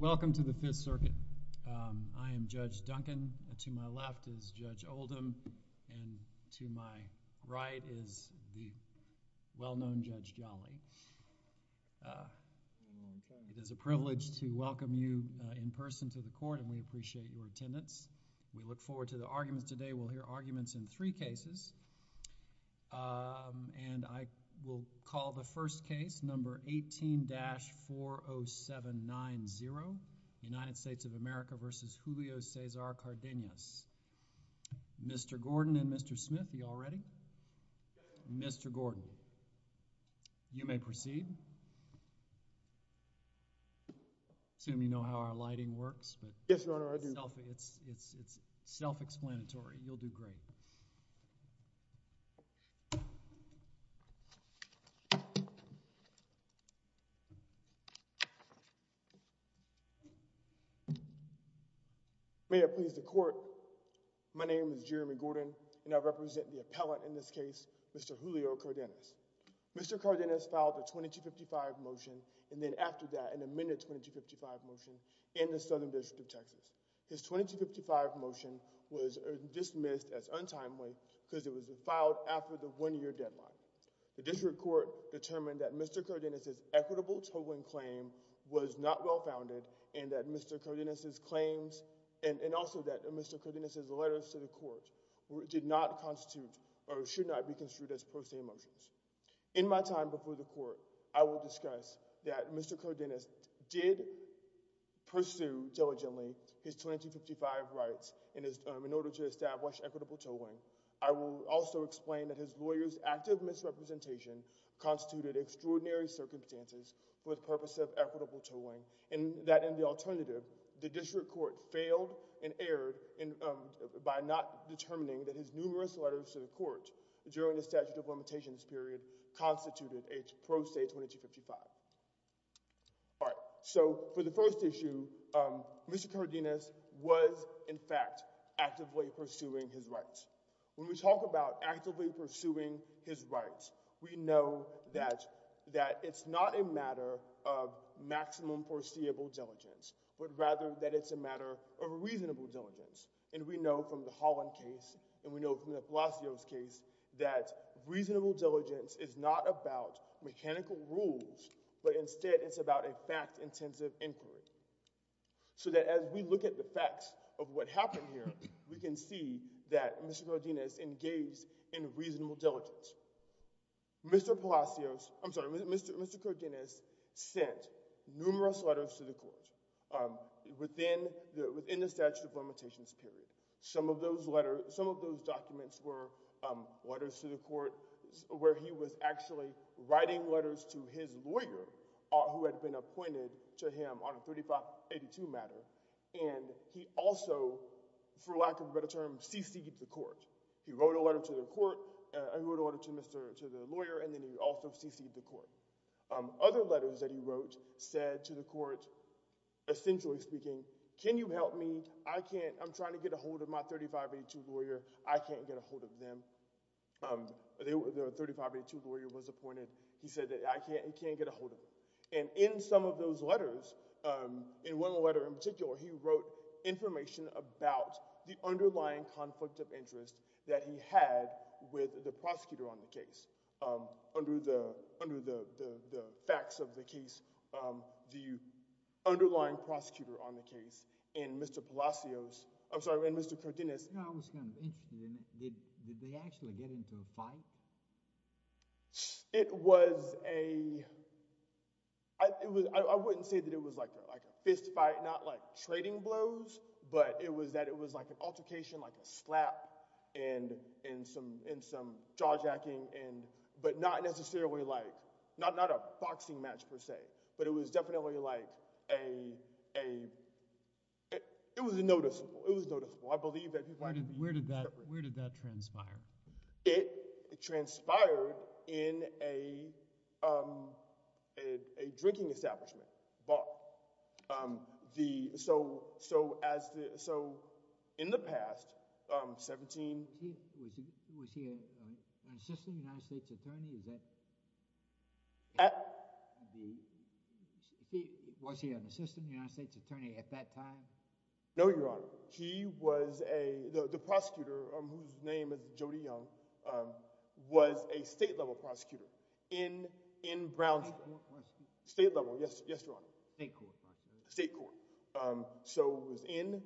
Welcome to the Fifth Circuit. I am Judge Duncan, to my left is Judge Oldham, and to my right is the well-known Judge Jolly. It is a privilege to welcome you in person to the court, and we appreciate your attendance. We look forward to the arguments today. We'll hear arguments in three cases, and I will call the first case, number 18-40790, United States of America v. Julio Cesar Cardenas. Mr. Gordon and Mr. Smith, are you all ready? Mr. Gordon, you may proceed. I assume you know how our lighting works, but it's self-explanatory. You'll do great. May I please the court? My name is Jeremy Gordon, and I represent the appellant in this case, Mr. Julio Cardenas. Mr. Cardenas filed a 2255 motion, and then after that, an amended 2255 motion in the Southern District of Texas. His 2255 motion was dismissed as untimely, because it was filed after the one-year deadline. The district court determined that Mr. Cardenas' equitable tolling claim was not well-founded, and that Mr. Cardenas' claims, and also that Mr. Cardenas' letters to the court, did not constitute, or should not be construed as personal motions. In my time before the court, I will discuss that Mr. Cardenas did pursue diligently his 2255 rights in order to establish equitable tolling. I will also explain that his lawyer's active misrepresentation constituted extraordinary circumstances for the purpose of equitable tolling, and that in the alternative, the district court failed and erred by not determining that his numerous letters to the court during the statute of limitations period constituted a pro se 2255. All right, so for the first issue, Mr. Cardenas was, in fact, actively pursuing his rights. When we talk about actively pursuing his rights, we know that it's not a matter of maximum foreseeable diligence, but rather that it's a matter of reasonable diligence, and we know from the Holland case, and we know from the Palacios case, that reasonable diligence is not about mechanical rules, but instead it's about a fact-intensive inquiry, so that as we look at the facts of what happened here, we can see that Mr. Cardenas engaged in reasonable diligence. Mr. Palacios, I'm sorry, Mr. Cardenas sent numerous letters to the court within the statute of limitations period. Some of those letters, some of those documents were letters to the court where he was actually writing letters to his lawyer who had been appointed to him on a 3582 matter, and he also, for lack of a better term, cc'd the court. He wrote a letter to the court, he wrote a letter to the lawyer, and then he also cc'd the court. Other letters that he wrote said to the court, essentially speaking, can you help me, I can't, I'm trying to get a hold of my 3582 lawyer, I can't get a hold of them. The 3582 lawyer was appointed, he said that I can't get a hold of them, and in some of those letters, in one letter in particular, he wrote information about the underlying conflict of interest that he had with the prosecutor on the case, under the facts of the case, the underlying prosecutor on the case, and Mr. Palacios, I'm sorry, and Mr. Cardenas. Now I was kind of interested in, did they actually get into a fight? It was a, I wouldn't say that it was like a fistfight, not like trading blows, but it was that it was like an altercation, like a slap, and some jaw jacking, but not necessarily like, not a boxing match per se, but it was definitely like a, it was noticeable, it was noticeable, I believe that he was fighting. Where did that, where did that transpire? It transpired in a a drinking establishment bar. The, so, so as the, so in the past, 17, was he an assistant United States attorney? Is that, at the, was he an assistant United States attorney at that time? No, your honor. He was a, the prosecutor, whose name is Jody Young, was a state-level prosecutor in, in Brownsville. State level, yes, yes, your honor. State court. State court. So it was in,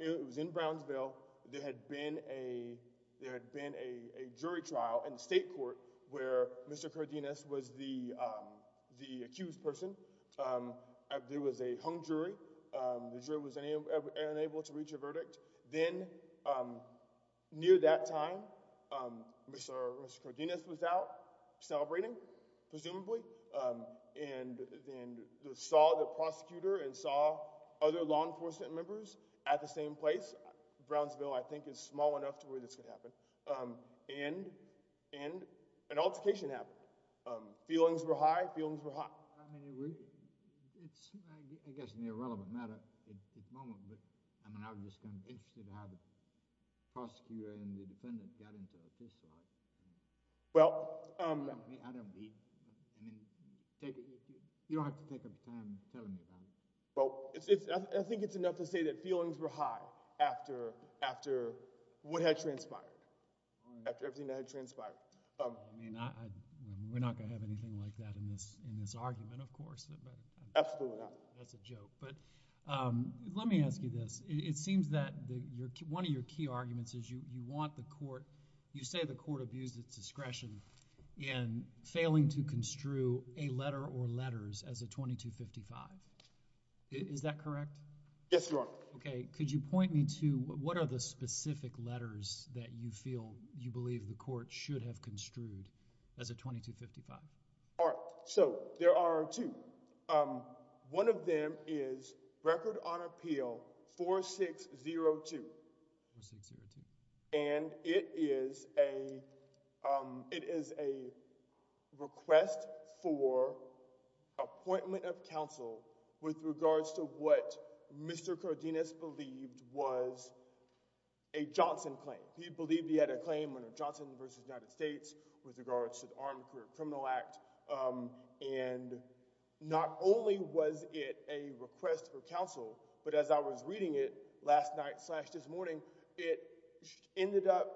it was in Brownsville. There had been a, there had been a jury trial in the state court where Mr. Cardenas was the, the accused person. There was a hung jury. The jury was unable to reach a verdict. Then, near that time, Mr. Cardenas was out celebrating, presumably, and then saw the prosecutor and saw other law enforcement members at the same place. Brownsville, I think, is small enough to where this could happen. And, and an altercation happened. Feelings were high. Feelings were high. I mean, I guess in the irrelevant matter at this moment, I mean, I was just going to ask you how the prosecutor and the defendant got into a fistfight. Well, um. I don't believe, I mean, you don't have to take a turn telling me that. Well, it's, it's, I think it's enough to say that feelings were high after, after what had transpired, after everything that had transpired. I mean, I, we're not going to have anything like that in this, in this argument, of course. Absolutely not. That's a joke. But, um, let me ask you this. It seems that your, one of your key arguments is you, you want the court, you say the court abused its discretion in failing to construe a letter or letters as a 2255. Is that correct? Yes, Your Honor. Okay. Could you point me to, what are the specific letters that you feel you believe the court should have construed as a 2255? All right. So, there are two. Um, one of them is Record on Appeal 4602. And it is a, um, it is a request for appointment of counsel with regards to what Mr. Cardenas believed was a Johnson claim. He believed he had a claim under Johnson v. United States with regards to the Armed Career Criminal Act. Um, and not only was it a request for counsel, but as I was reading it last night slash this morning, it ended up,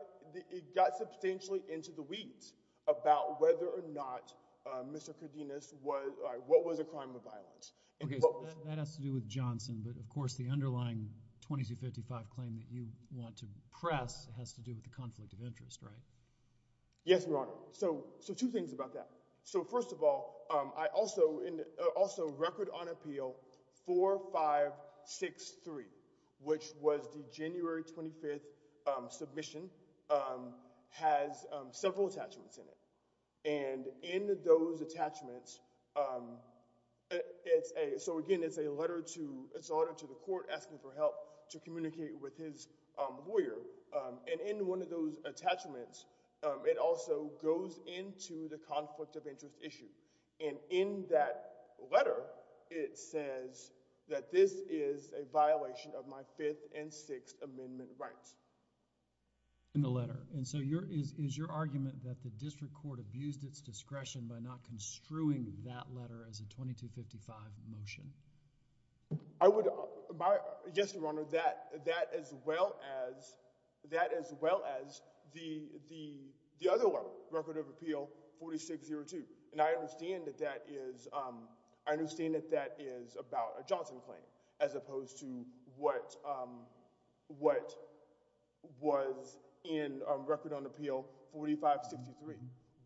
it got substantially into the weeds about whether or not, um, Mr. Cardenas was, uh, what was a crime of violence. Okay. So, that has to do with Johnson, but of course the underlying 2255 claim that you want to press has to do with the conflict of interest, right? Yes, Your Honor. So, so two things about that. So, first of all, um, I also, also Record on Appeal 4563, which was the January 25th, um, submission, um, has, um, several attachments in it. And in those attachments, um, it's a, so again, it's a letter to, it's an order to the court asking for help to communicate with his, um, lawyer. Um, and in one of those attachments, it also goes into the conflict of interest issue. And in that letter, it says that this is a violation of my Fifth and Sixth Amendment rights. In the letter. And so your, is, is your argument that the district court abused its discretion by not construing that letter as a 2255 motion? I would, my, yes, Your Honor, that, that as well as, that as well as the, the, the other one, Record of Appeal 4602. And I understand that that is, um, I understand that that is about a Johnson claim as opposed to what, um, what was in, um, Record on Appeal 4563.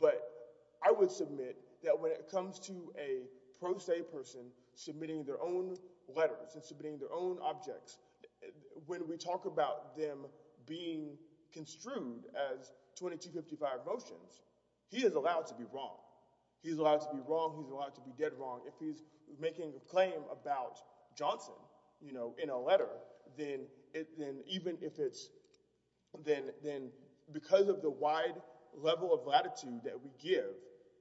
But I would submit that when it comes to a pro se person submitting their own letters and submitting their own objects, when we talk about them being construed as a 2255 motion, if he's making a claim about Johnson, you know, in a letter, then it, then even if it's, then, then because of the wide level of latitude that we give,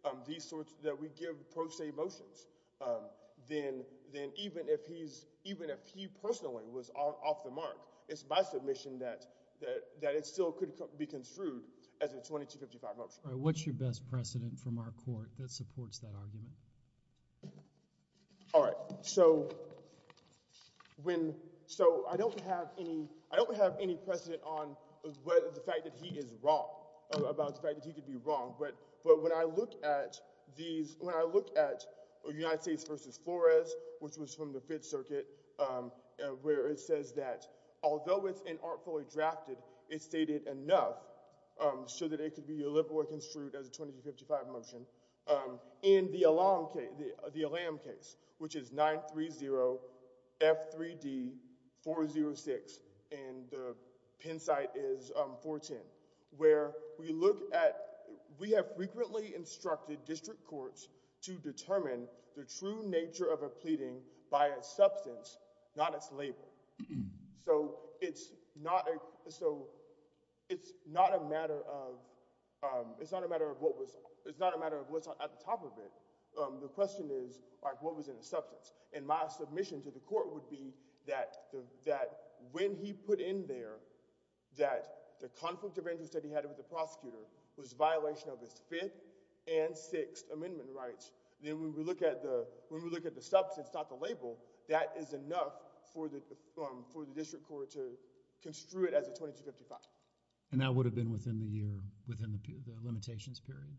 um, these sorts, that we give pro se motions, um, then, then even if he's, even if he personally was off the mark, it's my submission that, that, that it still could be construed as a 2255 motion. All right. What's your best precedent from our court that supports that argument? All right. So when, so I don't have any, I don't have any precedent on the fact that he is wrong, about the fact that he could be wrong, but, but when I look at these, when I look at United States v. Flores, which was from the Fifth Circuit, um, where it says that although it's an artfully drafted, it's stated enough, um, so that it could be a little more construed as a 2255 motion, um, in the Elam case, the Elam case, which is 930 F3D 406, and the Penn site is, um, 410, where we look at, we have frequently instructed district courts to determine the true nature of a pleading by a plaintiff. So, um, it's not a matter of, um, it's not a matter of what was, it's not a matter of what's at the top of it. The question is, what was in the substance, and my submission to the court would be that, that when he put in there, that the conflict of interest that he had with the prosecutor was violation of his Fifth and Sixth Amendment rights. Then when we look at the, when we look at the substance, not the label, that is enough for the, for the district court to construe it as a 2255. And that would have been within the year, within the limitations period?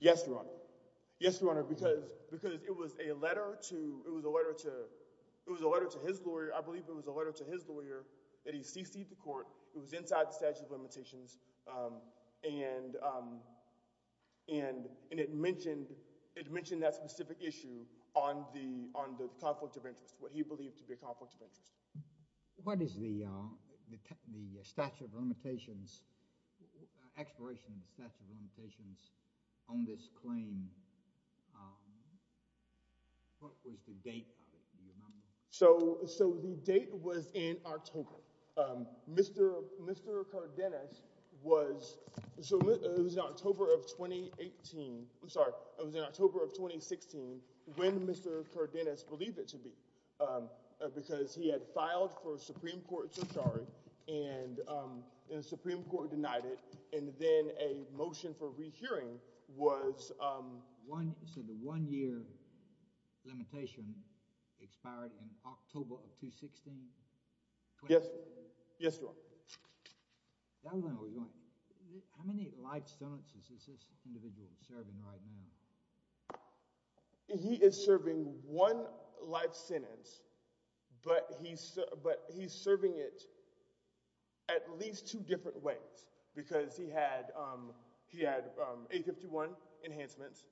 Yes, Your Honor. Yes, Your Honor, because, because it was a letter to, it was a letter to, it was a letter to his lawyer, I believe it was a letter to his lawyer, that he cc'd the court, it was inside the statute of limitations, um, and, um, and, and it mentioned, it mentioned that specific issue on the, on the conflict of interest, what he believed to be a conflict of interest. What is the, uh, the statute of limitations, expiration of the statute of limitations on this claim? What was the date of it, do you remember? So, so the date was in October. Um, Mr., Mr. Cardenas was, so it was in October of 2018, I'm sorry, it was in October of 2016 when Mr. Cardenas believed it to be, um, because he had filed for Supreme Court surcharge, and, um, and the Supreme Court denied it, and then a motion for rehearing was, um, one, so the one-year limitation expired in October of 2016? Yes, yes, Your Honor. How many lifestones is this individual serving right now? He is serving one life sentence, but he's, but he's serving it at least two different ways, because he had, um, he had 851 enhancements,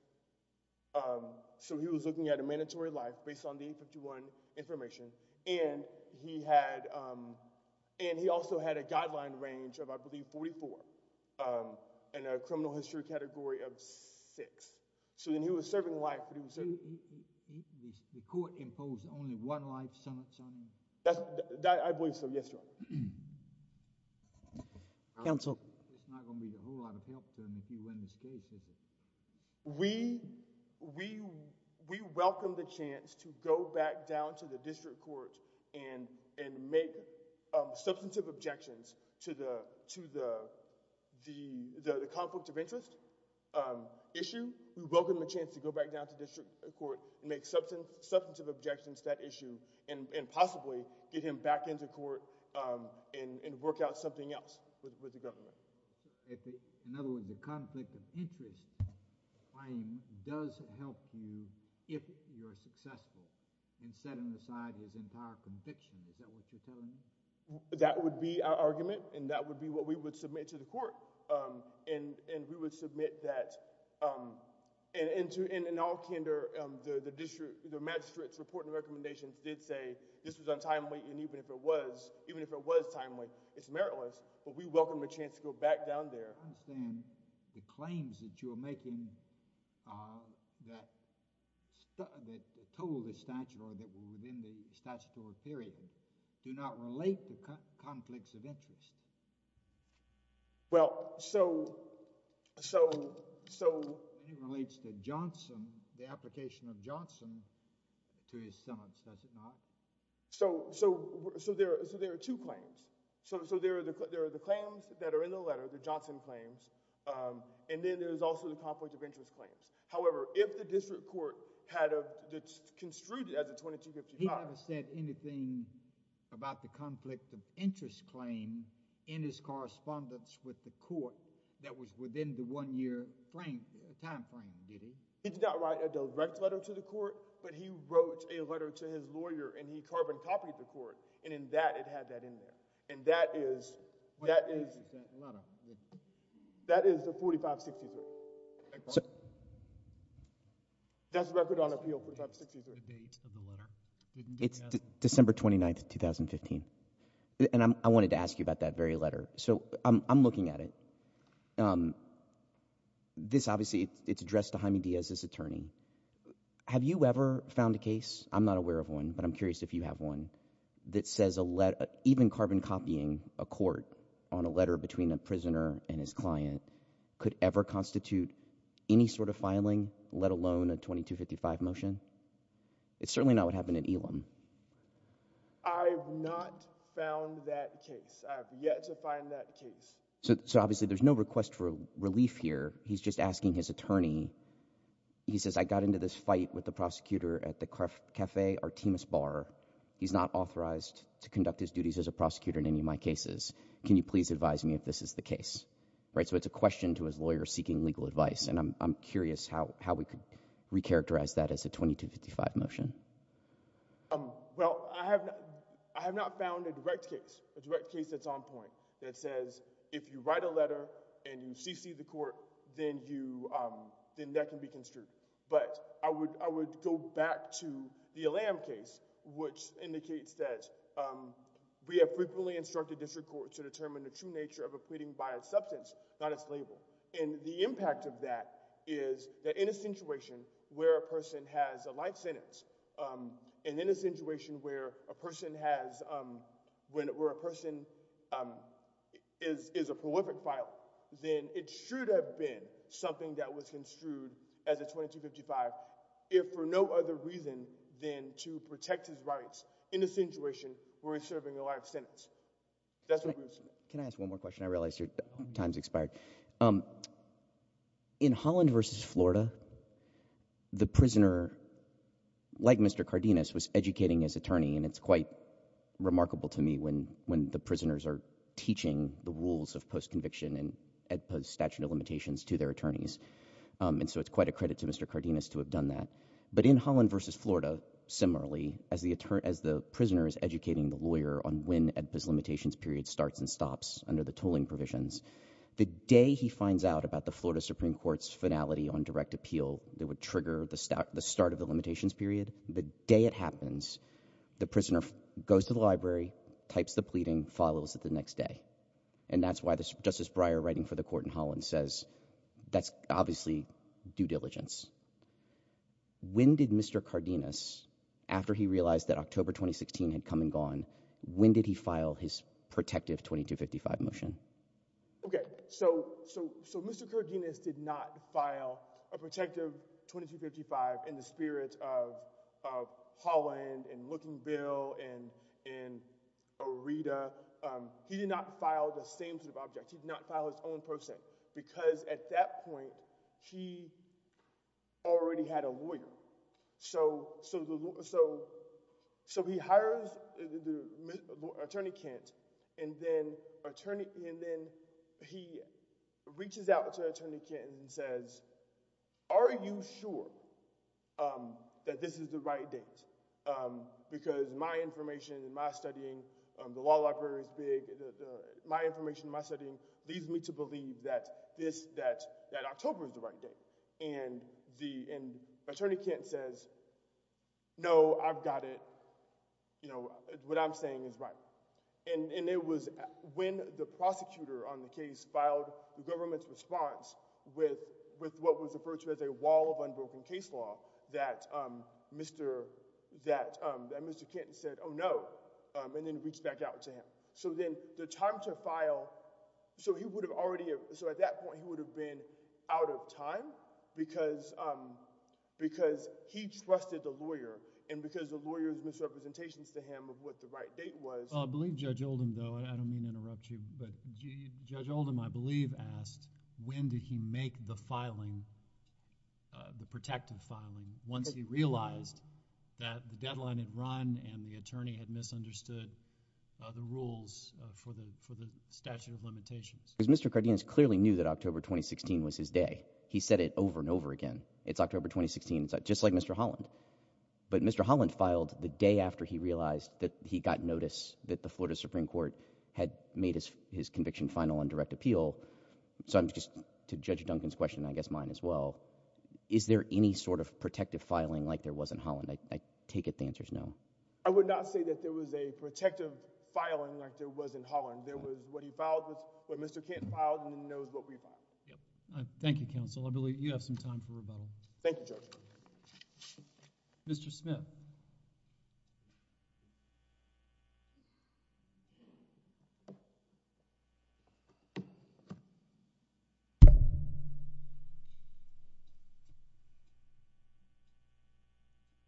um, so he was looking at a mandatory life based on the 851 information, and he had, um, and he also had a guideline range of, I believe, 44, um, and a criminal history category of six, so then he was serving life, but he was serving. The court imposed only one life sentence on him? That's, that, I believe so, yes, Your Honor. Counsel. It's not going to be a whole lot of help to him if he went astray, is it? We, we, we welcome the chance to go back down to the district court and, and make, um, substantive objections to the, to the, the, the conflict of interest, um, issue. We welcome the chance to go back down to district court, make substantive, substantive objections to that issue, and, and possibly get him back into court, um, and, and work out something else with, with the government. In other words, the conflict of interest claim does help you if you're successful in setting aside his entire conviction, is that what you're saying? That would be our argument, and that would be what we would submit to the court, um, and, and we would submit that, um, and into, and in all candor, um, the, the district, the magistrate's report and recommendations did say this was untimely, and even if it was, even if it was timely, it's meritless, but we welcome a chance to go back down there. I understand the claims that you are making, uh, that, that told the statute or that were within the statutory period do not relate to conflicts of interest. Well, so, so, so. It relates to Johnson, the application of Johnson to his sentence, does it not? So, so, so there, so there are two claims. So, so there are the, the claims that are in the letter, the Johnson claims, um, and then there's also the conflict of interest claims. However, if the district court had a, that's construed as a 2255. He never said anything about the conflict of interest claim in his correspondence with the court that was within the one-year frame, time frame, did he? He did not write a direct letter to the court, but he wrote a letter to his lawyer, and he carbon copied the court, and in that, it had that in it, and that is, that is, that is the 4563. That's the record on appeal, 4563. It's December 29th, 2015, and I'm, I wanted to ask you about that very letter. So, I'm, I'm looking at it. Um, this obviously, it's addressed to Jaime Diaz, his attorney. Have you ever found a case, I'm not aware of one, but I'm curious if you have one, that says a letter, even carbon copying a court on a letter between a prisoner and his client could ever constitute any sort of filing, let alone a 2255 motion? It's certainly not what happened at Elam. I have not found that case. I have yet to find that case. So, so obviously, there's no request for relief here. He's just asking his attorney, he says, I got into this to conduct his duties as a prosecutor in any of my cases. Can you please advise me if this is the case? Right? So, it's a question to his lawyer seeking legal advice, and I'm, I'm curious how, how we could recharacterize that as a 2255 motion. Um, well, I have, I have not found a direct case, a direct case that's on point, that says, if you write a letter, and you cc the court, then you, then that can be construed. But I would, I would go back to the Elam case, which indicates that, um, we have frequently instructed district court to determine the true nature of a pleading by its substance, not its label. And the impact of that is that in a situation where a person has a light sentence, um, and in a situation where a person has, um, when, where a person, um, is, is a prolific violent, then it should have been something that was construed as a 2255, if for no other reason than to protect his rights in a situation where he's serving a light sentence. Can I ask one more question? I realize your time's expired. Um, in Holland versus Florida, the prisoner, like Mr. Cardenas, was educating his attorney, and it's quite remarkable to me when, when the prisoners are teaching the rules of post-conviction and AEDPA's statute of limitations to their attorneys. Um, and so it's quite a credit to Mr. Cardenas to have done that. But in Holland versus Florida, similarly, as the attorney, as the prisoner is educating the lawyer on when AEDPA's limitations period starts and stops under the tolling provisions, the day he finds out about the Florida Supreme Court's finality on direct appeal that would trigger the start, the start of the limitations period, the day it happens, the types the pleading, follows it the next day. And that's why Justice Breyer writing for the court in Holland says that's obviously due diligence. When did Mr. Cardenas, after he realized that October 2016 had come and gone, when did he file his protective 2255 motion? Okay. So, so, so Mr. Cardenas did not file a protective 2255 in the spirit of, of Holland and looking Bill and, and Rita. Um, he did not file the same sort of object. He did not file his own person because at that point he already had a lawyer. So, so, so, so, so he hires the attorney Kent and then attorney, and then he reaches out to attorney Kent and says, are you sure, um, that this is the right date? Um, because my information and my studying, um, the law library is big. My information, my setting leads me to believe that this, that, that October is the right date. And the attorney Kent says, no, I've got it. You know, what I'm saying is right. And, and it was when the prosecutor on the case filed the government's response with, with what was referred to as a wall of unbroken case law that, um, Mr., that, um, that Mr. Kent said, oh no, um, and then reached back out to him. So then the time to file, so he would have already, so at that point he would have been out of time because, um, because he trusted the lawyer and because the lawyer's misrepresentations to him of what the right date was. I believe Judge Oldham though, I don't mean to interrupt you, but Judge Oldham I believe asked when did he make the filing, uh, the protective filing once he realized that the deadline had run and the attorney had misunderstood, uh, the rules, uh, for the, for the statute of limitations. Because Mr. Cardenas clearly knew that October 2016 was his day. He said it over and over again. It's October 2016. It's just like Mr. Holland. But Mr. Holland filed the day after he realized that he got notice that the Florida Supreme Court had made his, his conviction final on direct appeal. So I'm just, to Judge Duncan's question, I guess mine as well, is there any sort of protective filing like there was in Holland? I, I take it the answer's no. I would not say that there was a protective filing like there was in Holland. There was what he filed with, what Mr. Kent filed and he knows what we filed. Yeah. All right. Thank you, counsel. I believe you have some time for rebuttal. Thank you, Judge Duncan. Mr. Smith.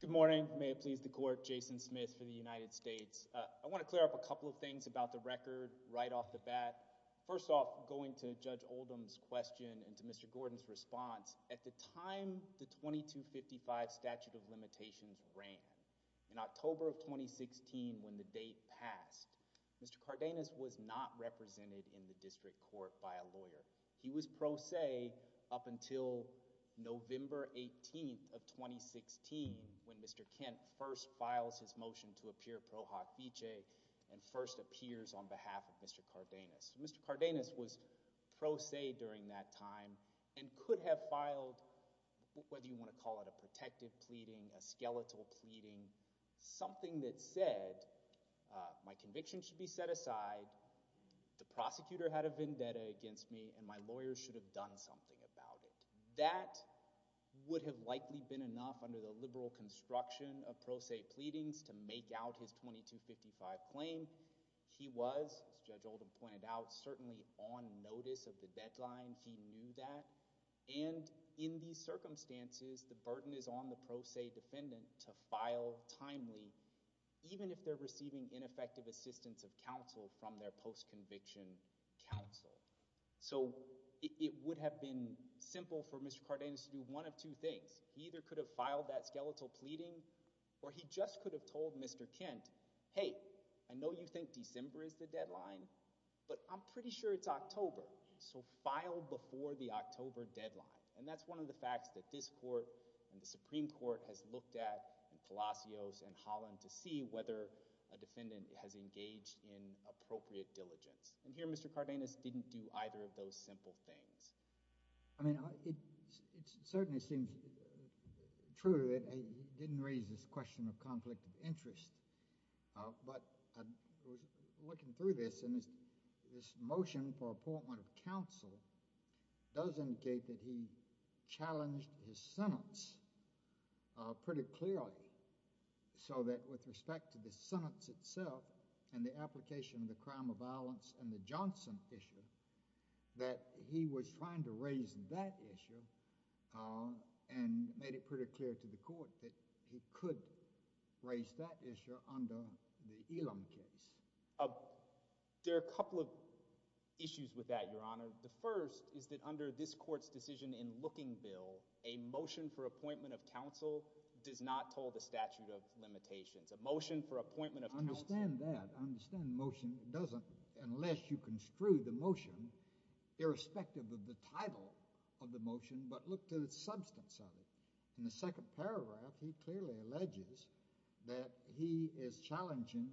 Good morning. May it please the court, Jason Smith for the United States. Uh, I want to clear up a couple of things about the record right off the bat. First off, going to Judge Oldham's question and to Mr. Gordon's response, at the time the 2255 statute of limitations ran in October of 2016 when the date passed, Mr. Cardenas was not represented in the district court by a lawyer. He was pro se up until November 18th of 2016 when Mr. Kent first files his motion to appear and could have filed, whether you want to call it a protective pleading, a skeletal pleading, something that said, uh, my conviction should be set aside, the prosecutor had a vendetta against me and my lawyer should have done something about it. That would have likely been enough under the liberal construction of pro se pleadings to make out his 2255 claim. He was, Judge Oldham pointed out, certainly on notice of the deadline. He knew that. And in these circumstances, the burden is on the pro se defendant to file timely, even if they're receiving ineffective assistance of counsel from their post conviction counsel. So, it would have been simple for Mr. Cardenas to do one of two things. He either could have filed that skeletal pleading or he just could have told Mr. Kent, hey, I know you think December is the deadline, but I'm pretty sure it's October, so file before the October deadline. And that's one of the facts that this court and the Supreme Court has looked at in Palacios and Holland to see whether a defendant has engaged in appropriate diligence. And here Mr. Cardenas didn't do either of those simple things. I mean, it certainly seems true that he didn't raise this question of conflict of interest, but looking through this and this motion for appointment of counsel does indicate that he challenged his sentence pretty clearly. So that with respect to the sentence itself and the application of the crime of violence and the Johnson issue, that he was trying to raise that issue and made it pretty clear to the court that he could raise that issue under the Elam case. There are a couple of issues with that, Your Honor. The first is that under this court's decision in Lookingville, a motion for appointment of counsel does not hold the statute of limitations. A motion for appointment of counsel... I understand that. I understand the motion doesn't unless you construe the motion irrespective of the title of the motion, but look to the substance of it. In the second paragraph, he clearly alleges that he is challenging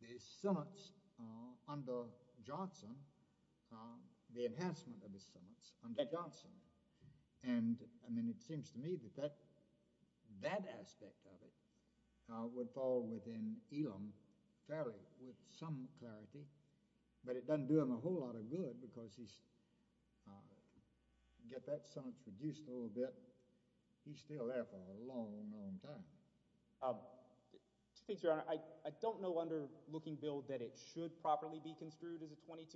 the sentence under Johnson, the enhancement of the sentence under Johnson. And, I mean, it seems to me that that aspect of it would fall within Elam fairly with some clarity, but it doesn't do him a whole lot of good because he's, get that sentence reduced a little bit, he's still there for a long, long time. Mr. Speaker, Your Honor, I don't know under Lookingville that it should properly be of the claims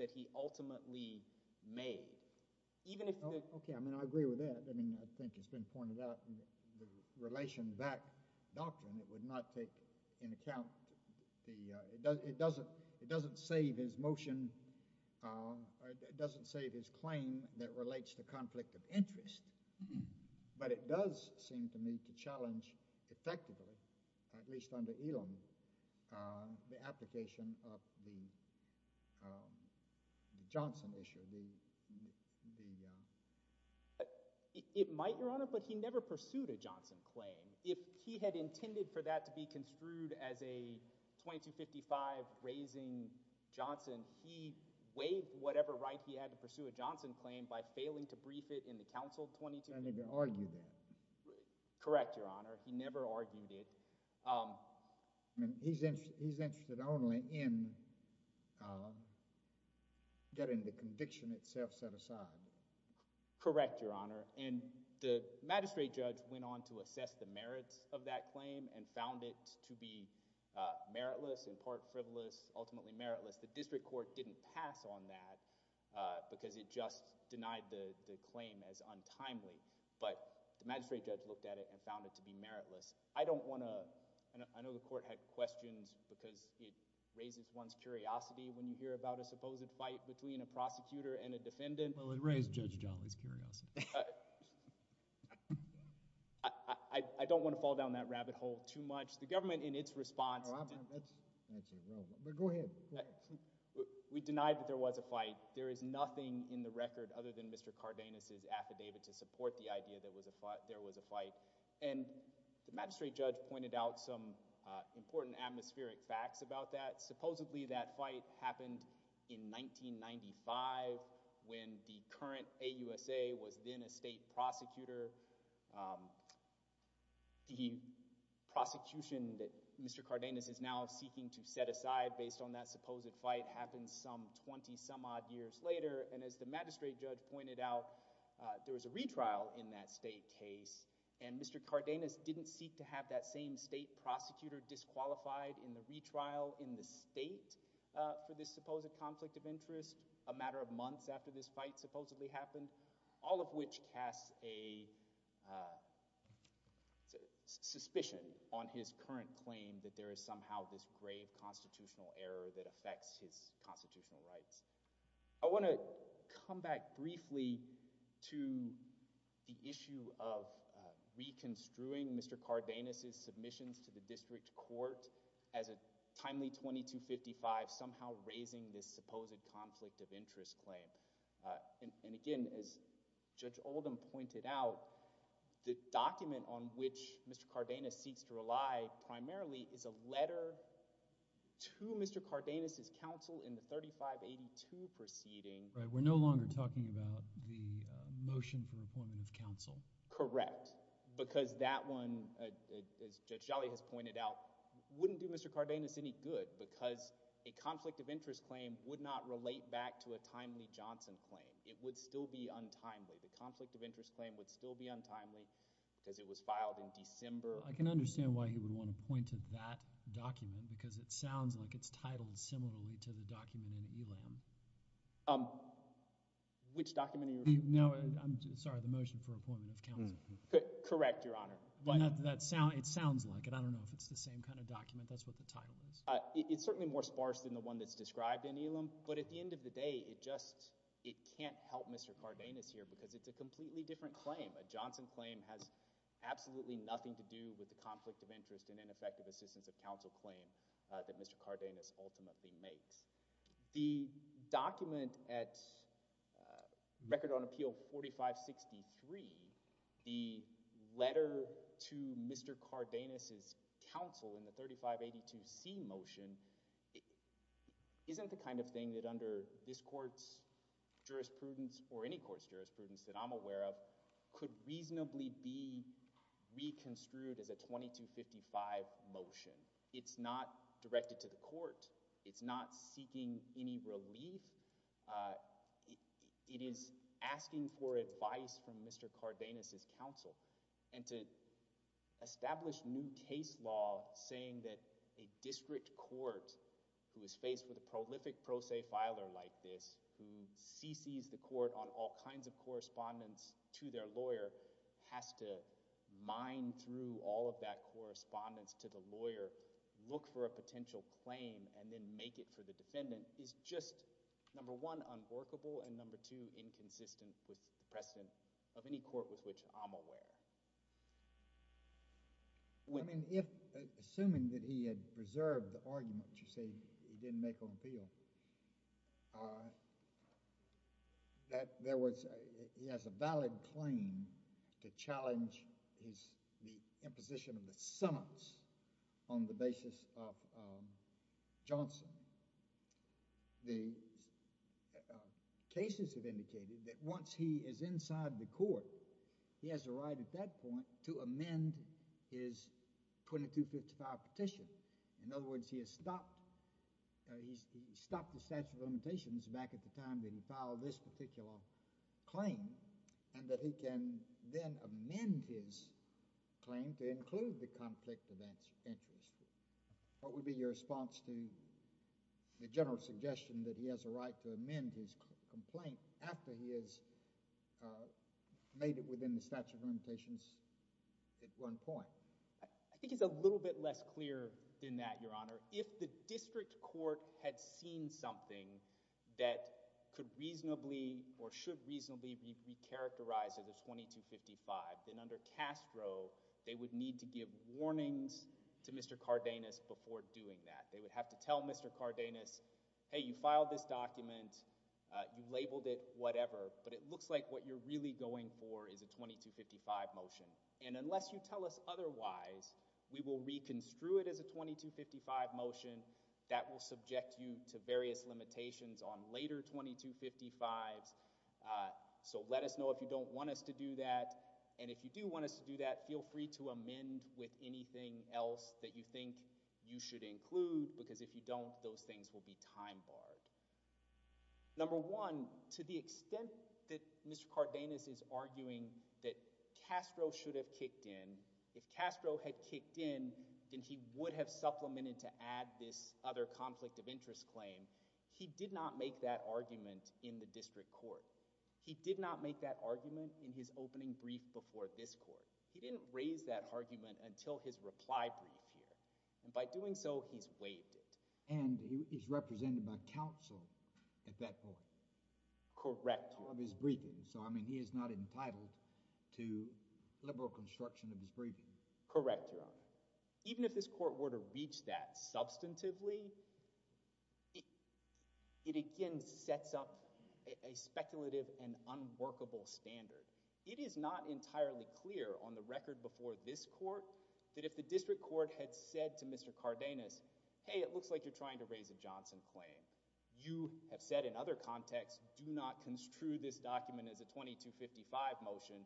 that he ultimately made, even if... Okay, I mean, I agree with that. I mean, I think it's been pointed out in the relation back doctrine, it would not take in account the, it doesn't, it doesn't save his motion, it doesn't save his claim that relates to conflict of interest, but it does seem to me to challenge effectively, at least under Elam, the application of the Johnson issue, the... It might, Your Honor, but he never pursued a Johnson claim. If he had intended for that to be construed as a 2255 raising Johnson, he waived whatever right he had to pursue a Johnson claim by failing to brief it in the counsel 2255. I think they argued that. Correct, Your Honor, he never argued it. I mean, he's interested only in getting the conviction itself set aside. Correct, Your Honor, and the magistrate judge went on to assess the merits of that claim and found it to be meritless and part frivolous, ultimately meritless. The district court didn't pass on that because it just denied the claim as untimely, but the magistrate judge looked at it and found it to be meritless. I don't want to, I know the court had questions because it raises one's curiosity when you hear about a supposed fight between a prosecutor and a defendant. Well, it raised Judge Johnley's curiosity. I don't want to fall down that rabbit hole too much. The government, in its response, we denied that there was a fight. There is nothing in the record other than Mr. Cardenas' affidavit to support the idea that there was a fight, and the magistrate judge pointed out some important atmospheric facts about that. Supposedly, that fight happened in 1995 when the current AUSA was then a state prosecutor. The prosecution that Mr. Cardenas is now seeking to set aside based on that supposed fight happened some 20 some odd years later, and as the magistrate judge pointed out, there was a retrial in that state case, and Mr. Cardenas didn't seek to have that same state prosecutor disqualified in the retrial in the state for this supposed conflict of interest a matter of months after this fight supposedly happened, all of which casts a suspicion on his current claim that there is this grave constitutional error that affects his constitutional rights. I want to come back briefly to the issue of reconstruing Mr. Cardenas' submissions to the district court as a timely 2255 somehow raising this supposed conflict of interest claim, and again, as Judge Jolly pointed out, it would not be a timely Johnson claim. It would still be untimely. The conflict of interest claim would still be untimely because it was filed in December. Right. We're no longer talking about the motion for appointment of counsel. Correct. Because that one, as Judge Jolly has pointed out, wouldn't do Mr. Cardenas any good because a conflict of interest claim would not relate back to a timely Johnson claim. It would still be untimely. The conflict of interest claim would still be untimely because it was filed in December. I can understand why he would want to point to that document because it sounds like it's titled similarly to the document in Elam. Which document in Elam? No, I'm sorry, the motion for appointment of counsel. Correct, Your Honor. But it sounds like it. I don't know if it's the same kind of document. That's what the title is. It's certainly more sparse than the one that's described in Elam, but at the end of the day, it just, it can't help Mr. Cardenas here because it's a completely different claim. A Johnson claim has absolutely nothing to do with the conflict of interest and ineffective assistance of counsel claim that Mr. Cardenas ultimately makes. The document at Record on Appeal 4563, the letter to Mr. Cardenas' counsel in the 3582C motion, isn't the kind of thing that under this court's jurisprudence or any court's jurisprudence that I'm aware of, could reasonably be reconstrued as a 2255 motion. It's not directed to the court. It's not seeking any relief. It is asking for advice from Mr. Cardenas' counsel and to establish new case law saying that a district court who is faced with a prolific pro se filer like this, who cc's the lawyer, has to mine through all of that correspondence to the lawyer, look for a potential claim, and then make it for the defendant, is just, number one, unworkable, and number two, inconsistent with the precedent of any court with which I'm aware. I mean, if, assuming that he had preserved the argument that you say he didn't make on appeal, uh, that there was, he has a valid claim to challenge his, the imposition of the summons on the basis of, um, Johnson, the cases have indicated that once he is inside the court, he has a right at that point to amend his 2255 petition. In other words, he has stopped, uh, he's, he stopped the statute of limitations back at the time that he filed this particular claim and that he can then amend his claim to include the conflict of interest. What would be your response to the general suggestion that he has a right to amend his complaint after he has, uh, made it within the statute of limitations at one point? I think it's a little bit less clear than that, Your Honor. If the district court had seen something that could reasonably or should reasonably be, be characterized as a 2255, then under Castro, they would need to give warnings to Mr. Cardenas before doing that. They would have to tell Mr. Cardenas, hey, you filed this document, uh, you labeled it, whatever, but it looks like what you're really going for is a 2255 motion. And unless you tell us otherwise, we will reconstrue it as a 2255 motion that will subject you to various limitations on later 2255s. Uh, so let us know if you don't want us to do that. And if you do want us to do that, feel free to amend with anything else that you think you should include, because if you don't, those things will be time barred. Number one, to the extent that Mr. Cardenas is arguing that if Castro had kicked in, then he would have supplemented to add this other conflict of interest claim, he did not make that argument in the district court. He did not make that argument in his opening brief before this court. He didn't raise that argument until his reply brief appeared. And by doing so, he's waived it. And he is represented by counsel at that point. Correct. Correct. Even if this court were to reach that substantively, it again sets up a speculative and unworkable standard. It is not entirely clear on the record before this court that if the district court had said to Mr. Cardenas, hey, it looks like you're do not construe this document as a 2255 motion,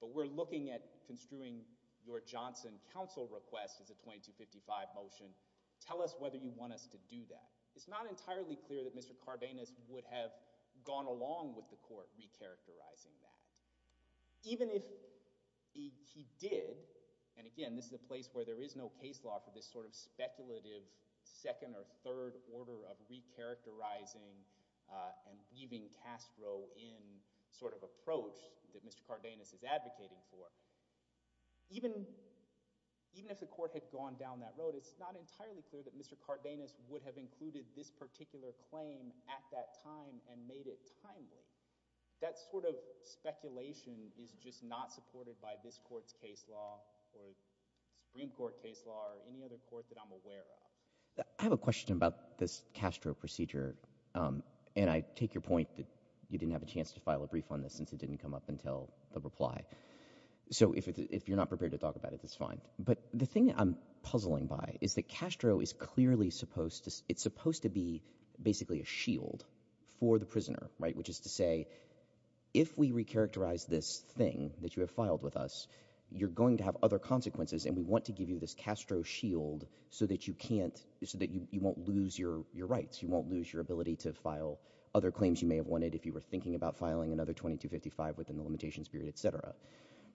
but we're looking at construing your Johnson counsel request as a 2255 motion. Tell us whether you want us to do that. It's not entirely clear that Mr. Cardenas would have gone along with the court recharacterizing that. Even if he did, and again, this is a place where there is no case law for this sort of speculative second or third order of recharacterizing and weaving Castro in sort of approach that Mr. Cardenas is advocating for, even if the court had gone down that road, it's not entirely clear that Mr. Cardenas would have included this particular claim at that time and made it timely. That sort of speculation is just not supported by this court's case law or Supreme Court case law or any other court that I'm aware of. I have a question about this Castro procedure and I take your point that you didn't have a chance to file a brief on this since it didn't come up until the reply. So if you're not prepared to talk about it, that's fine. But the thing I'm puzzling by is that Castro is clearly supposed to, it's supposed to be basically a shield for the prisoner, right? Which is to say, if we recharacterize this thing that you have filed with us, you're going to have other consequences and we want to give you this Castro shield so that you can't, so that you won't lose your rights. You won't lose your ability to file other claims you may have wanted if you were thinking about filing another 2255 within the limitations period, et cetera.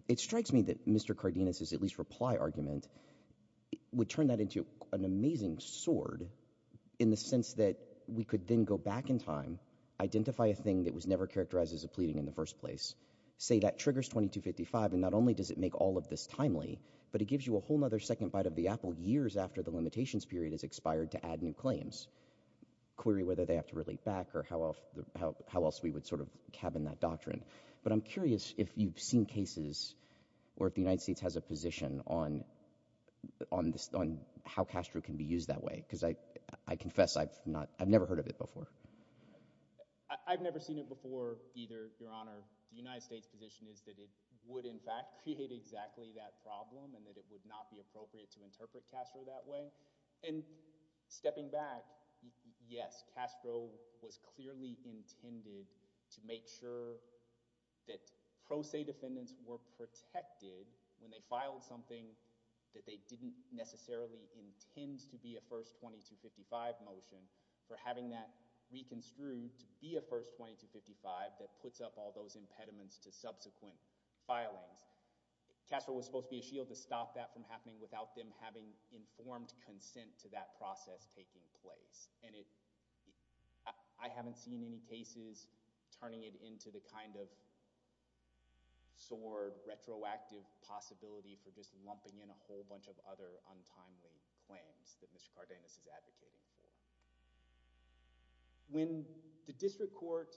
It strikes me that Mr. Cardenas' at least reply argument would turn that into an amazing sword in the sense that we could then go back in time, identify a thing that was never characterized as a pleading in the first place, say that triggers 2255, and not only does it make all of this timely, but it gives you a whole other second bite of the apple years after the limitations period has expired to add new claims, query whether they have to relate back or how else we would sort of cabin that doctrine. But I'm curious if you've seen cases or if the United States has a position on how Castro can be used that way, because I confess I've never heard of it before. I've never seen it before either, Your Honor. The United States position is that it would in fact create exactly that problem and that it would not be appropriate to interpret Castro that way. And stepping back, yes, Castro was clearly intended to make sure that pro se defendants were protected when they filed something that they didn't necessarily intend to be a first 2255 motion. For having that reconstrued to be a first 2255 that puts up all those impediments to subsequent filings, Castro was supposed to be a shield to stop that from happening without them having informed consent to that process taking place. And I haven't seen any cases turning it into the kind of sword retroactive possibility for just lumping in a whole bunch of other timely claims that Mr. Cardenas is advocating for. When the district court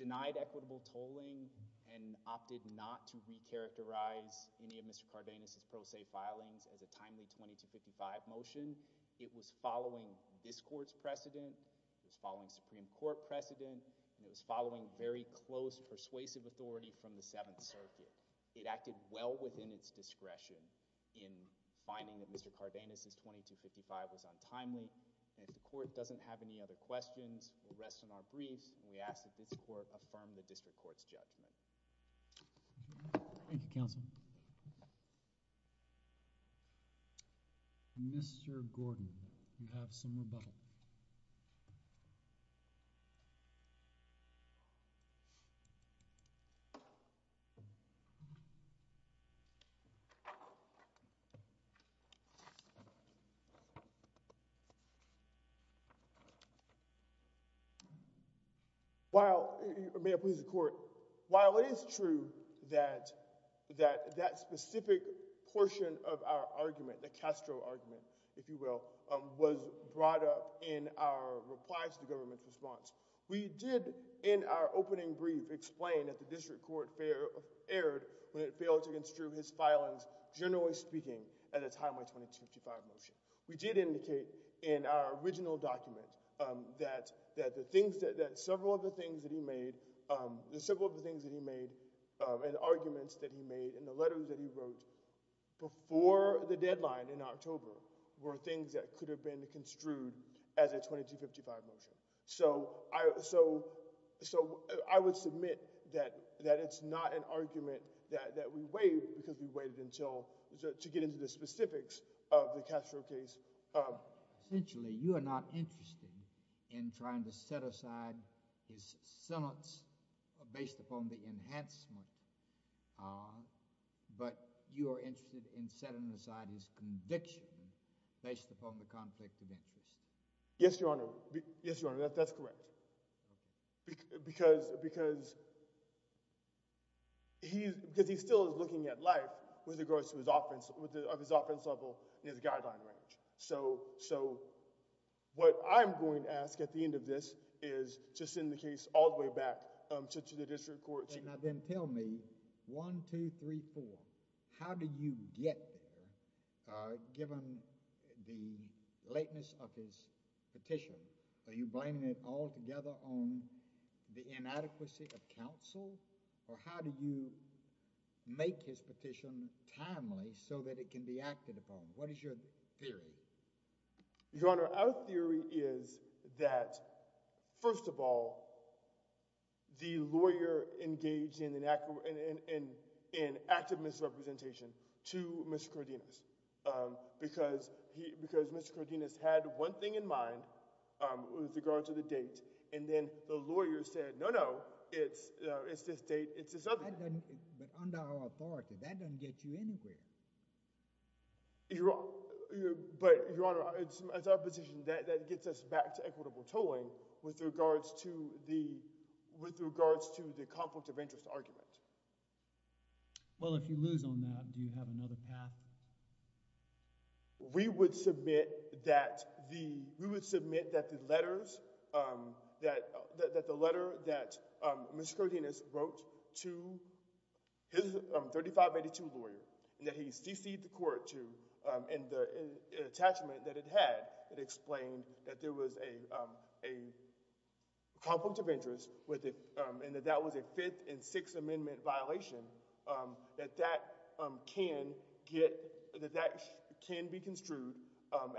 denied equitable tolling and opted not to re-characterize any of Mr. Cardenas' pro se filings as a timely 2255 motion, it was following this court's precedent, it was following Supreme Court precedent, and it was following very close persuasive authority from the Seventh Circuit. It acted well within its discretion in finding that Mr. Cardenas' 2255 was untimely. And if the court doesn't have any other questions, we'll rest on our briefs and we ask that this court affirm the district court's judgment. Thank you, counsel. Mr. Gordon, you have some rebuttal. While, may I please the court, while it is true that that specific portion of our argument, the Castro argument, if you will, was brought up in our reply to the government's response, we did in our opening brief explain that the district court erred when it failed to construe his filings, generally speaking, as a timely 2255 motion. We did indicate in our original document that several of the things that he made and arguments that he made in the letter that he wrote before the deadline in October were things that could have been changed. So I would submit that it's not an argument that we waived because we waived to get into the specifics of the Castro case. Essentially, you are not interested in trying to set aside his silence based upon the enhancement, but you are interested in setting aside his conviction based upon the context of interest. Yes, Your Honor. Yes, Your Honor, that's correct. Because, because he, because he still is looking at life with regards to his offense, with his offense level in his guideline range. So, so what I'm going to ask at the end of this is to send the case all the way back to the district court. Now then tell me, one, two, three, four, how do you get there given the lateness of his petition? Are you blaming it altogether on the inadequacy of counsel? Or how do you make his petition timely so that it can be acted upon? What is your theory? Your Honor, our theory is that, first of all, the lawyer engaged in an to Mr. Cordinas because he, because Mr. Cordinas had one thing in mind with regards to the date and then the lawyer said, no, no, it's, it's this date, it's this other date. But under our authority, that doesn't get you anything. But, Your Honor, it's our position that that gets us back to equitable tolling with regards to the, with regards to the conflict of interest argument. Well, if you lose on that, do you have another path? We would submit that the, we would submit that the letters, that, that the letter that Mr. Cordinas wrote to his 3582 lawyer, that he cc'd the court to, and the attachment that it had, it explained that there was a, a conflict of interest with it, and that that was a Fifth and Sixth Amendment violation, that that can get, that that can be construed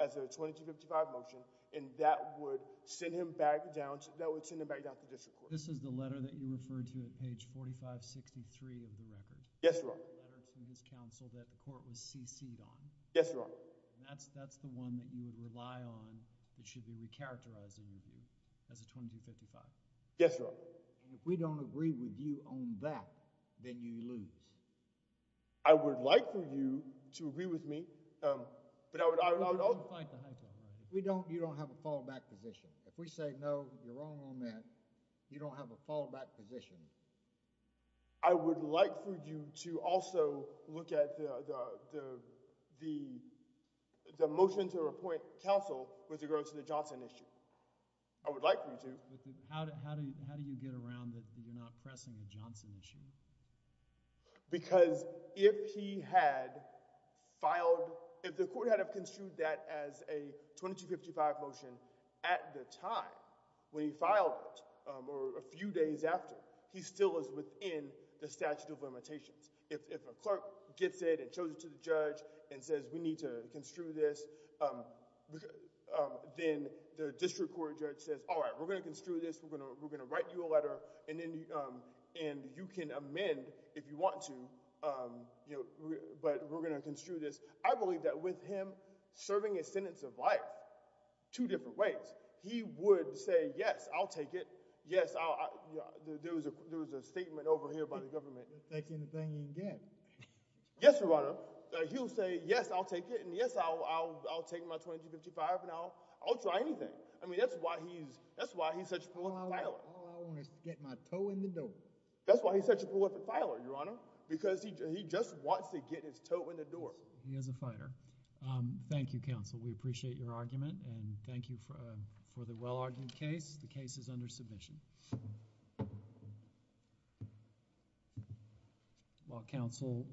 as a 2255 motion, and that would send him back down to, that would send him back down to district court. This is the letter that you referred to at page 4563 of the record? Yes, Your Honor. The letter from his counsel that the court was cc'd on? Yes, Your Honor. And that's, that's the one that you would rely on, that should be recharacterizing of you as a 2255? Yes, Your Honor. If we don't agree with you on that, then you lose. I would like for you to agree with me, but I would, I would, I would, I would, I would— You don't have a fallback position. If we say, no, you're wrong on that, you don't have a fallback position. I would like for you to also look at the, the, the, the motion to appoint counsel with regard to the Johnson issue. I would like for you to. How, how do you, how do you get around that you're not pressing the Johnson issue? Because if he had filed, if the court had construed that as a 2255 motion at the time when he filed it or a few days after, he still is within the statute of limitations. If, if a clerk gets it and shows it to the judge and says, we need to construe this, then the district court judge says, all right, we're going to construe this. We're going to, we're going to write you a letter and then, and you can amend if you want to, you know, but we're going to construe this. I believe that with him serving a sentence of life two different ways. He would say, yes, I'll take it. Yes, I'll, there was a, there was a statement over here by the government. He'll take anything he can get. Yes, your honor. He'll say, yes, I'll take it. And yes, I'll, I'll, I'll take my 2255 and I'll, I'll try anything. I mean, that's why he's, that's why he's such a prolific filer. All I want is to get my toe in the door. That's why he's such a prolific filer, your honor, because he, he just wants to get his toe in the door. He is a fighter. Thank you, counsel. We appreciate your argument and thank you for the well-argued case. The case is under submission. While counsel.